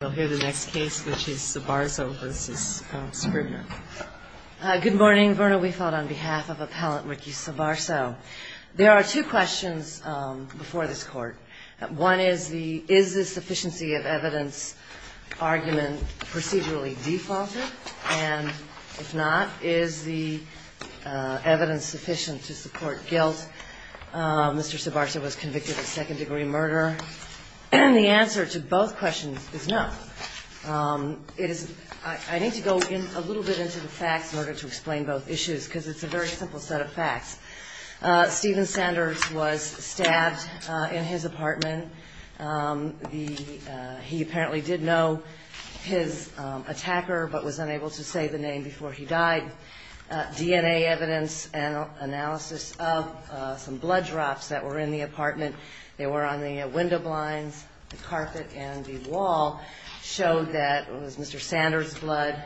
Good morning. Verna Weefeld on behalf of Appellant Ricky Sobarzo. There are two questions before this court. One is, is the sufficiency of evidence argument procedurally defaulted? And if not, is the evidence sufficient to support guilt? Mr. Sobarzo was convicted of second degree murder. The answer to both questions is no. I need to go a little bit into the facts in order to explain both issues, because it's a very simple set of facts. Stephen Sanders was stabbed in his apartment. He apparently did know his attacker, but was unable to say the name before he died. DNA evidence and analysis of some blood drops that were in the apartment. They were on the window blinds, the carpet, and the wall. It showed that it was Mr. Sanders' blood,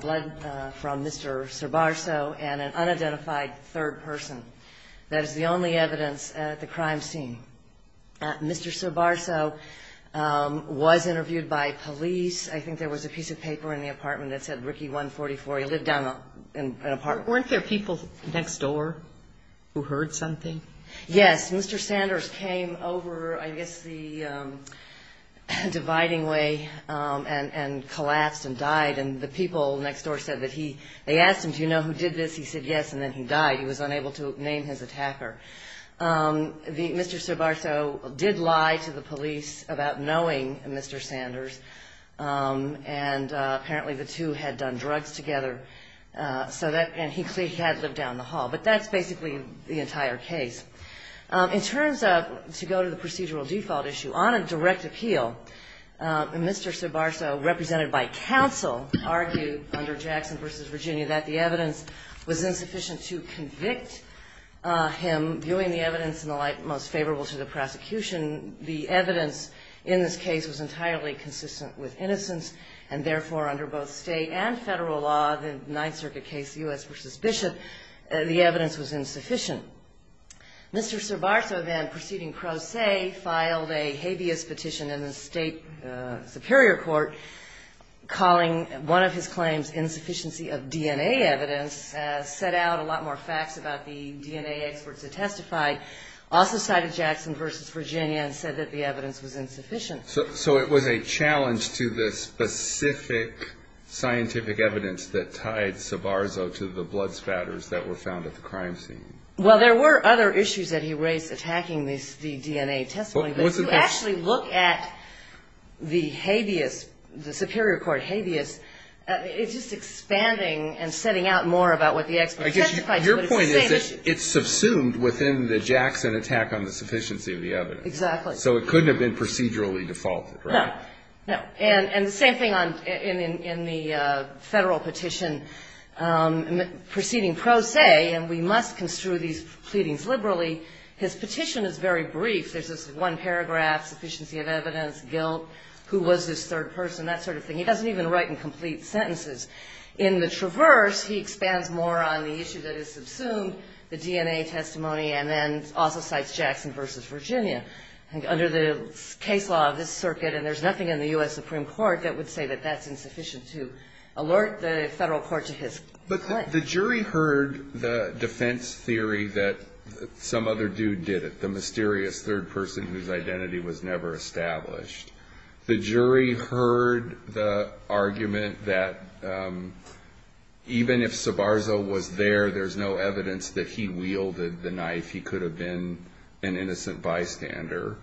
blood from Mr. Sobarzo, and an unidentified third person. That is the only evidence at the crime scene. Mr. Sobarzo was interviewed by police. I think there was a piece of paper in the apartment that said Ricky 144. He lived down in an apartment. Weren't there people next door who heard something? But that's basically the entire case. In terms of, to go to the procedural default issue, on a direct appeal, Mr. Sobarzo, represented by counsel, argued under Jackson v. Virginia that the evidence was insufficient to convict him, viewing the evidence in the light most favorable to the prosecution. The evidence in this case was entirely consistent with innocence, and therefore, under both state and federal law, the Ninth Circuit case, U.S. v. Bishop, the evidence was insufficient. Mr. Sobarzo then, proceeding pro se, filed a habeas petition in the state superior court, calling one of his claims insufficiency of DNA evidence, set out a lot more facts about the DNA experts that testified. Also cited Jackson v. Virginia and said that the evidence was insufficient. So it was a challenge to the specific scientific evidence that tied Sobarzo to the blood spatters that were found at the crime scene? Well, there were other issues that he raised attacking the DNA testimony, but if you actually look at the habeas, the superior court habeas, it's just expanding and setting out more about what the experts testified. Your point is that it's subsumed within the Jackson attack on the sufficiency of the evidence. Exactly. So it couldn't have been procedurally defaulted, right? No. And the same thing in the federal petition, proceeding pro se, and we must construe these pleadings liberally, his petition is very brief. There's this one paragraph, sufficiency of evidence, guilt, who was this third person, that sort of thing. He doesn't even write in complete sentences. In the traverse, he expands more on the issue that is subsumed, the DNA testimony, and then also cites Jackson v. Virginia. Under the case law of this circuit, and there's nothing in the U.S. Supreme Court that would say that that's insufficient to alert the federal court to his claim. But the jury heard the defense theory that some other dude did it, the mysterious third person whose identity was never established. The jury heard the argument that even if Sabarzo was there, there's no evidence that he wielded the knife. He could have been an innocent bystander.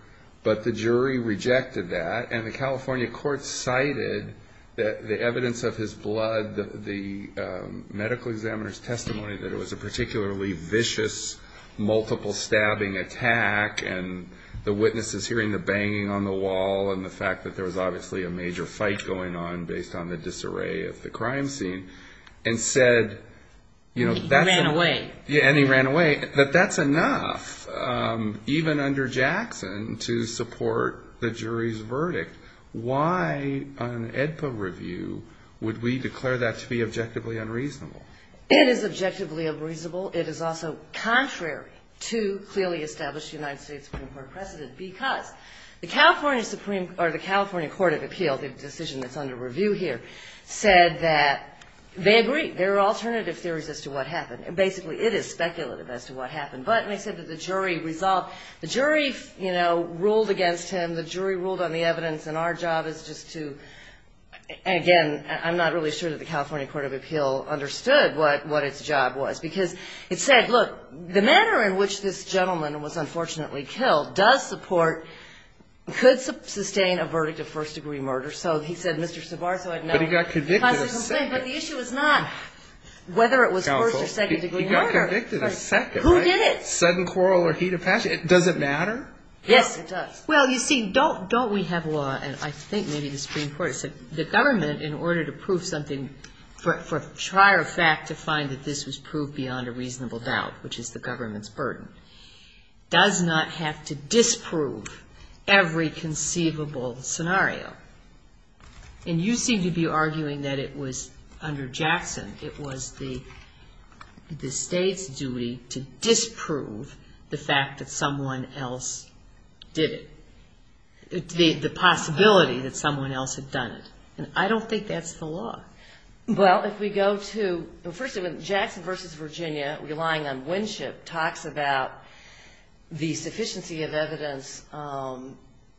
But the jury rejected that, and the California court cited the evidence of his blood, the medical examiner's testimony that it was a particularly vicious, multiple-stabbing attack, and the witnesses hearing the banging on the wall and the fact that there was obviously a major fight going on based on the disarray of the crime scene, and said that's enough, even under Jackson, to support the jury's verdict. Why on an AEDPA review would we declare that to be objectively unreasonable? It is objectively unreasonable. It is also contrary to clearly established United States Supreme Court precedent because the California Supreme or the California Court of Appeal, the decision that's under review here, said that they agree. There are alternative theories as to what happened. Basically, it is speculative as to what happened. But they said that the jury resolved. The jury, you know, ruled against him. The jury ruled on the evidence. And our job is just to, again, I'm not really sure that the California Court of Appeal understood what its job was. Because it said, look, the manner in which this gentleman was unfortunately killed does support, could sustain a verdict of first-degree murder. So he said, Mr. Savarzo, I'd know. But he got convicted of second. But the issue is not whether it was first or second-degree murder. He got convicted of second, right? Who did it? Sudden quarrel or heat of passion. Does it matter? Yes, it does. Well, you see, don't we have a law, and I think maybe the Supreme Court has said, the government, in order to prove something, for a trier fact to find that this was proved beyond a reasonable doubt, which is the government's burden, does not have to disprove every conceivable scenario. And you seem to be arguing that it was under Jackson, it was the State's duty to disprove the fact that someone else did it. The possibility that someone else had done it. And I don't think that's the law. Well, if we go to, first of all, Jackson v. Virginia, relying on Winship, talks about the sufficiency of evidence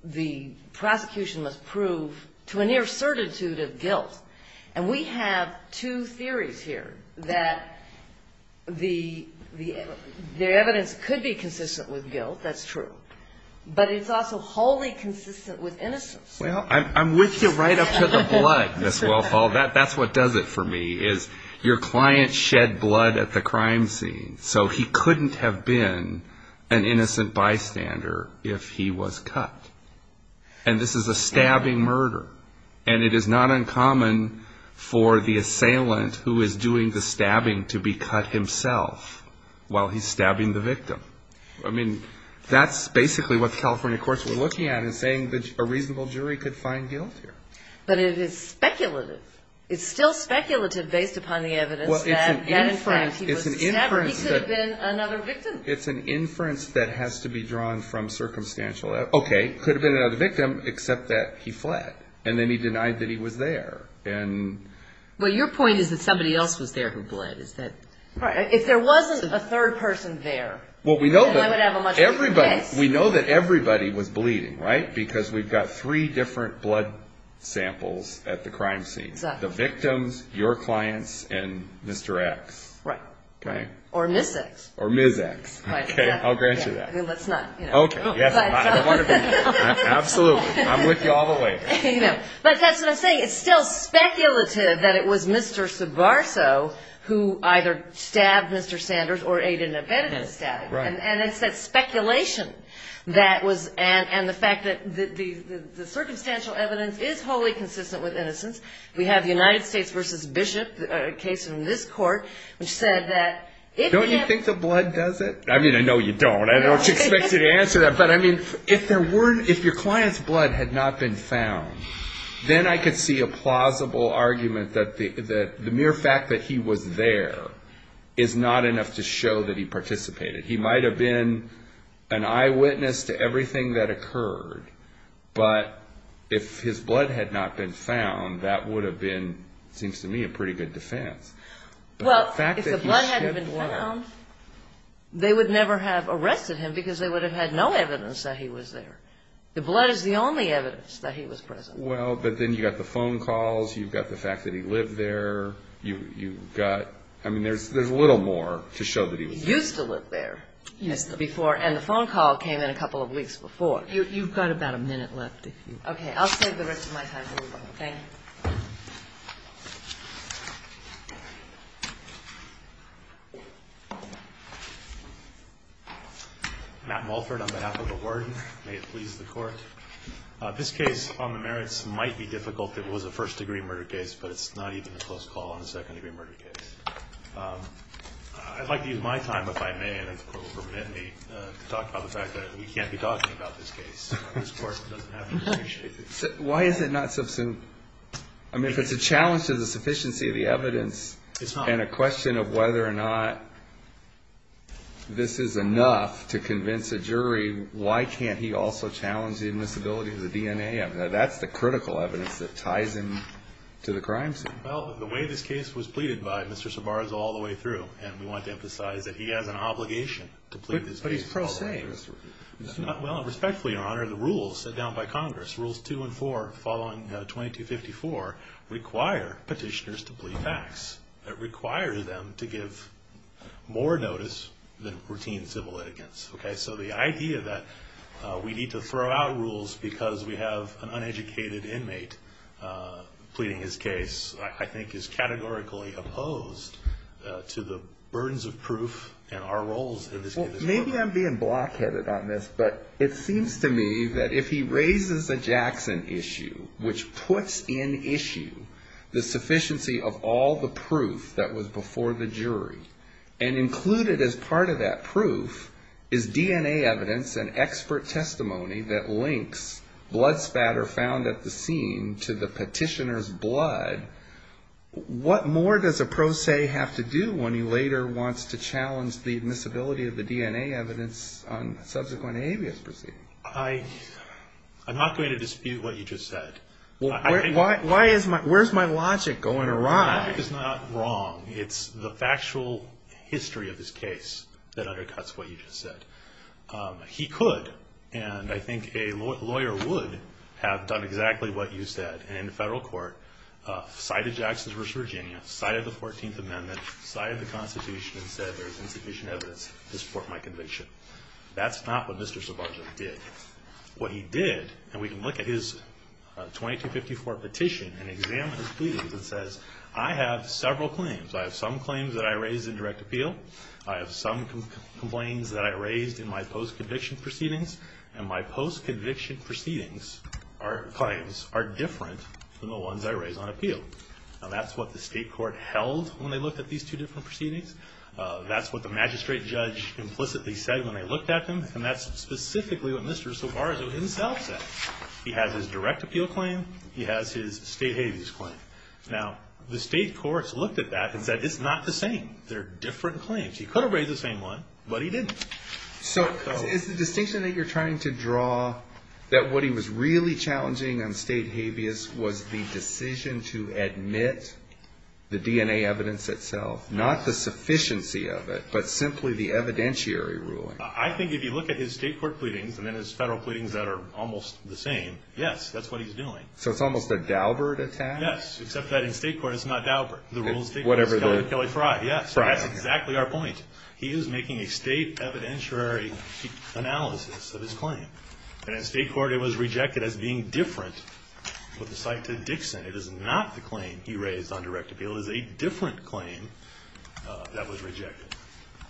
the prosecution must prove to a near certitude of guilt. And we have two theories here, that the evidence could be consistent with guilt, that's true. But it's also wholly consistent with innocence. Well, I'm with you right up to the blood, Ms. Wellfall. That's what does it for me, is your client shed blood at the crime scene, so he couldn't have been an innocent bystander if he was cut. And this is a stabbing murder. And it is not uncommon for the assailant who is doing the stabbing to be cut himself while he's stabbing the victim. I mean, that's basically what the California courts were looking at in saying that a reasonable jury could find guilt here. But it is speculative. It's still speculative based upon the evidence that, in fact, he was stabbed or he could have been another victim. It's an inference that has to be drawn from circumstantial evidence. Okay, could have been another victim, except that he fled. And then he denied that he was there. Well, your point is that somebody else was there who bled. If there wasn't a third person there, then I would have a much bigger case. We know that everybody was bleeding, right, because we've got three different blood samples at the crime scene. The victims, your clients, and Mr. X. Right. Okay. Or Ms. X. Or Ms. X. Okay, I'll grant you that. Let's not, you know. Okay. Absolutely. I'm with you all the way. But that's what I'm saying. It's still speculative that it was Mr. Sabarso who either stabbed Mr. Sanders or Aiden Abedin who stabbed him. Right. And it's that speculation that was, and the fact that the circumstantial evidence is wholly consistent with innocence. We have the United States v. Bishop, a case in this court, which said that if he had been. Don't you think the blood does it? I mean, I know you don't. I don't expect you to answer that. But, I mean, if your client's blood had not been found, then I could see a plausible argument that the mere fact that he was there is not enough to show that he participated. He might have been an eyewitness to everything that occurred, but if his blood had not been found, that would have been, it seems to me, a pretty good defense. Well, if the blood hadn't been found, they would never have arrested him because they would have had no evidence that he was there. The blood is the only evidence that he was present. Well, but then you've got the phone calls. You've got the fact that he lived there. You've got, I mean, there's a little more to show that he was there. He used to live there. Yes. And the phone call came in a couple of weeks before. You've got about a minute left. Okay. I'll save the rest of my time for you. Thank you. Matt Mulford on behalf of the Warden. May it please the Court. This case on the merits might be difficult. It was a first-degree murder case, but it's not even a close call on a second-degree murder case. I'd like to use my time, if I may, and if the Court will permit me, to talk about the fact that we can't be talking about this case. Why is it not subsumed? I mean, if it's a challenge to the sufficiency of the evidence and a question of whether or not this is enough to convince a jury, why can't he also challenge the admissibility of the DNA? I mean, that's the critical evidence that ties him to the crime scene. Well, the way this case was pleaded by Mr. Sabar is all the way through, and we want to emphasize that he has an obligation to plead this case. But he's pro-law. Well, and respectfully, Your Honor, the rules set down by Congress, Rules 2 and 4, following 2254, require petitioners to plead facts. It requires them to give more notice than routine civil litigants. Okay? So the idea that we need to throw out rules because we have an uneducated inmate pleading his case, I think, is categorically opposed to the burdens of proof and our roles in this case. Maybe I'm being block-headed on this, but it seems to me that if he raises a Jackson issue, which puts in issue the sufficiency of all the proof that was before the jury, and included as part of that proof is DNA evidence and expert testimony that links blood spatter found at the scene to the petitioner's blood, what more does a pro se have to do when he later wants to challenge the admissibility of the DNA evidence on subsequent alias proceedings? I'm not going to dispute what you just said. Why is my logic going awry? Logic is not wrong. It's the factual history of this case that undercuts what you just said. He could, and I think a lawyer would, have done exactly what you said. He could have, in a federal court, cited Jackson v. Virginia, cited the 14th Amendment, cited the Constitution, and said there's insufficient evidence to support my conviction. That's not what Mr. Sobonja did. What he did, and we can look at his 2254 petition and examine his pleadings and says, I have several claims. I have some claims that I raised in direct appeal. I have some complaints that I raised in my post-conviction proceedings. And my post-conviction proceedings or claims are different than the ones I raised on appeal. Now, that's what the state court held when they looked at these two different proceedings. That's what the magistrate judge implicitly said when they looked at them. And that's specifically what Mr. Sobonja himself said. He has his direct appeal claim. He has his state habeas claim. Now, the state courts looked at that and said it's not the same. They're different claims. He could have raised the same one, but he didn't. So is the distinction that you're trying to draw that what he was really challenging on state habeas was the decision to admit the DNA evidence itself, not the sufficiency of it, but simply the evidentiary ruling? I think if you look at his state court pleadings and then his federal pleadings that are almost the same, yes, that's what he's doing. So it's almost a Daubert attack? Yes, except that in state court it's not Daubert. The rule is state court is Kelly Fry. Yes, that's exactly our point. He is making a state evidentiary analysis of his claim. And in state court it was rejected as being different with respect to Dixon. It is not the claim he raised on direct appeal. It is a different claim that was rejected.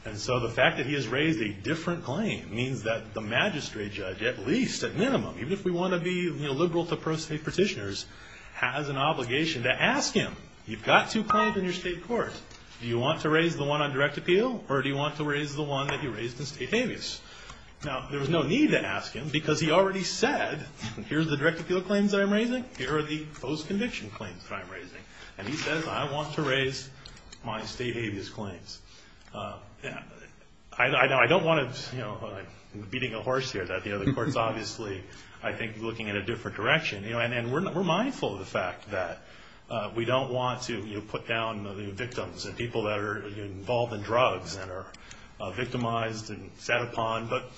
And so the fact that he has raised a different claim means that the magistrate judge, at least at minimum, even if we want to be liberal to pro-state petitioners, has an obligation to ask him, you've got two claims in your state court. Do you want to raise the one on direct appeal? Or do you want to raise the one that he raised in state habeas? Now, there was no need to ask him because he already said, here are the direct appeal claims that I'm raising, here are the post-conviction claims that I'm raising. And he says, I want to raise my state habeas claims. I don't want to, you know, I'm beating a horse here. The court is obviously, I think, looking in a different direction. And we're mindful of the fact that we don't want to put down the victims and people that are involved in drugs and are victimized and set upon. But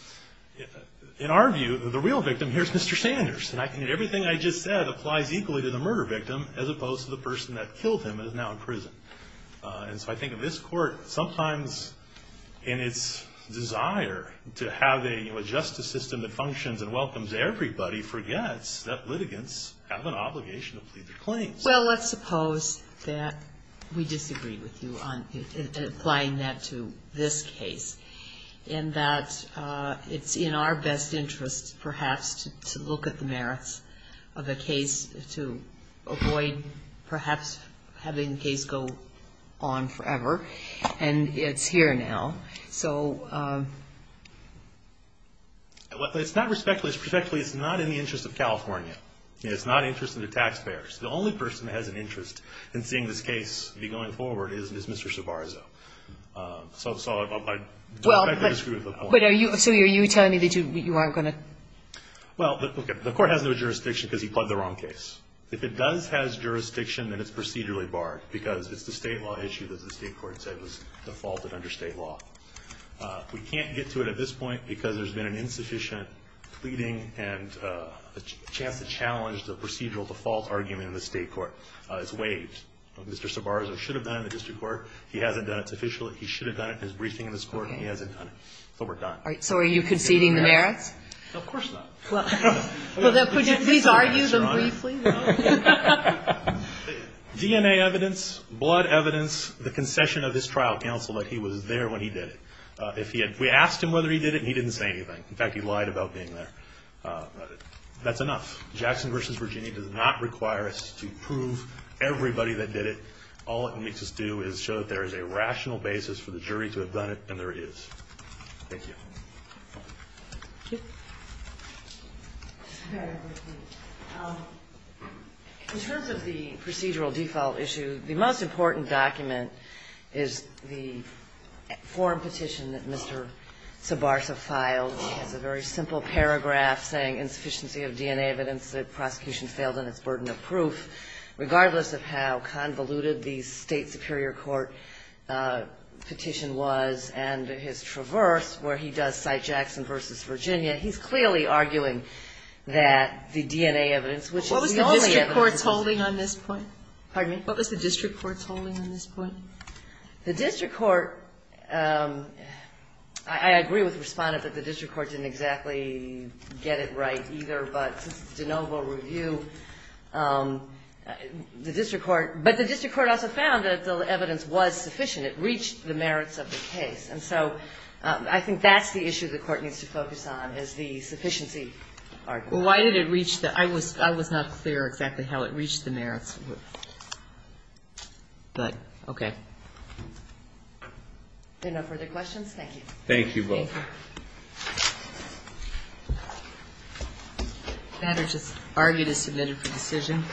in our view, the real victim here is Mr. Sanders. And everything I just said applies equally to the murder victim as opposed to the person that killed him and is now in prison. And so I think this court, sometimes in its desire to have a justice system that functions and welcomes everybody, forgets that litigants have an obligation to plead their claims. Well, let's suppose that we disagree with you on applying that to this case. And that it's in our best interest, perhaps, to look at the merits of the case to avoid perhaps having the case go on forever. And it's here now. So it's not respectfully, it's not in the interest of California. It's not in the interest of the taxpayers. The only person that has an interest in seeing this case be going forward is Mr. Savarzo. So I don't think I disagree with the point. But are you telling me that you aren't going to? Well, the court has no jurisdiction because he pled the wrong case. If it does have jurisdiction, then it's procedurally barred because it's the State law issue that the State court said was defaulted under State law. We can't get to it at this point because there's been an insufficient pleading and a chance to challenge the procedural default argument in the State court. It's waived. Mr. Savarzo should have done it in the district court. He hasn't done it. It's official. He should have done it in his briefing in this court, and he hasn't done it. So we're done. So are you conceding the merits? No, of course not. Well, then could you please argue them briefly? DNA evidence, blood evidence, the concession of his trial counsel that he was there when he did it. If we asked him whether he did it, he didn't say anything. In fact, he lied about being there. That's enough. Jackson v. Virginia does not require us to prove everybody that did it. All it makes us do is show that there is a rational basis for the jury to have done it, and there is. Thank you. Thank you. In terms of the procedural default issue, the most important document is the form petition that Mr. Savarzo filed. It's a very simple paragraph saying, Insufficiency of DNA evidence that prosecution failed on its burden of proof, regardless of how convoluted the State superior court petition was and his traverse where he does cite Jackson v. Virginia. He's clearly arguing that the DNA evidence, which is the only evidence. What was the district court's holding on this point? Pardon me? What was the district court's holding on this point? The district court, I agree with the Respondent that the district court didn't exactly get it right either, but this is de novo review. The district court, but the district court also found that the evidence was sufficient. It reached the merits of the case. And so I think that's the issue the Court needs to focus on, is the sufficiency argument. Well, why did it reach the merits? I was not clear exactly how it reached the merits. But, okay. Are there no further questions? Thank you. Thank you. The matter to argue is submitted for decision.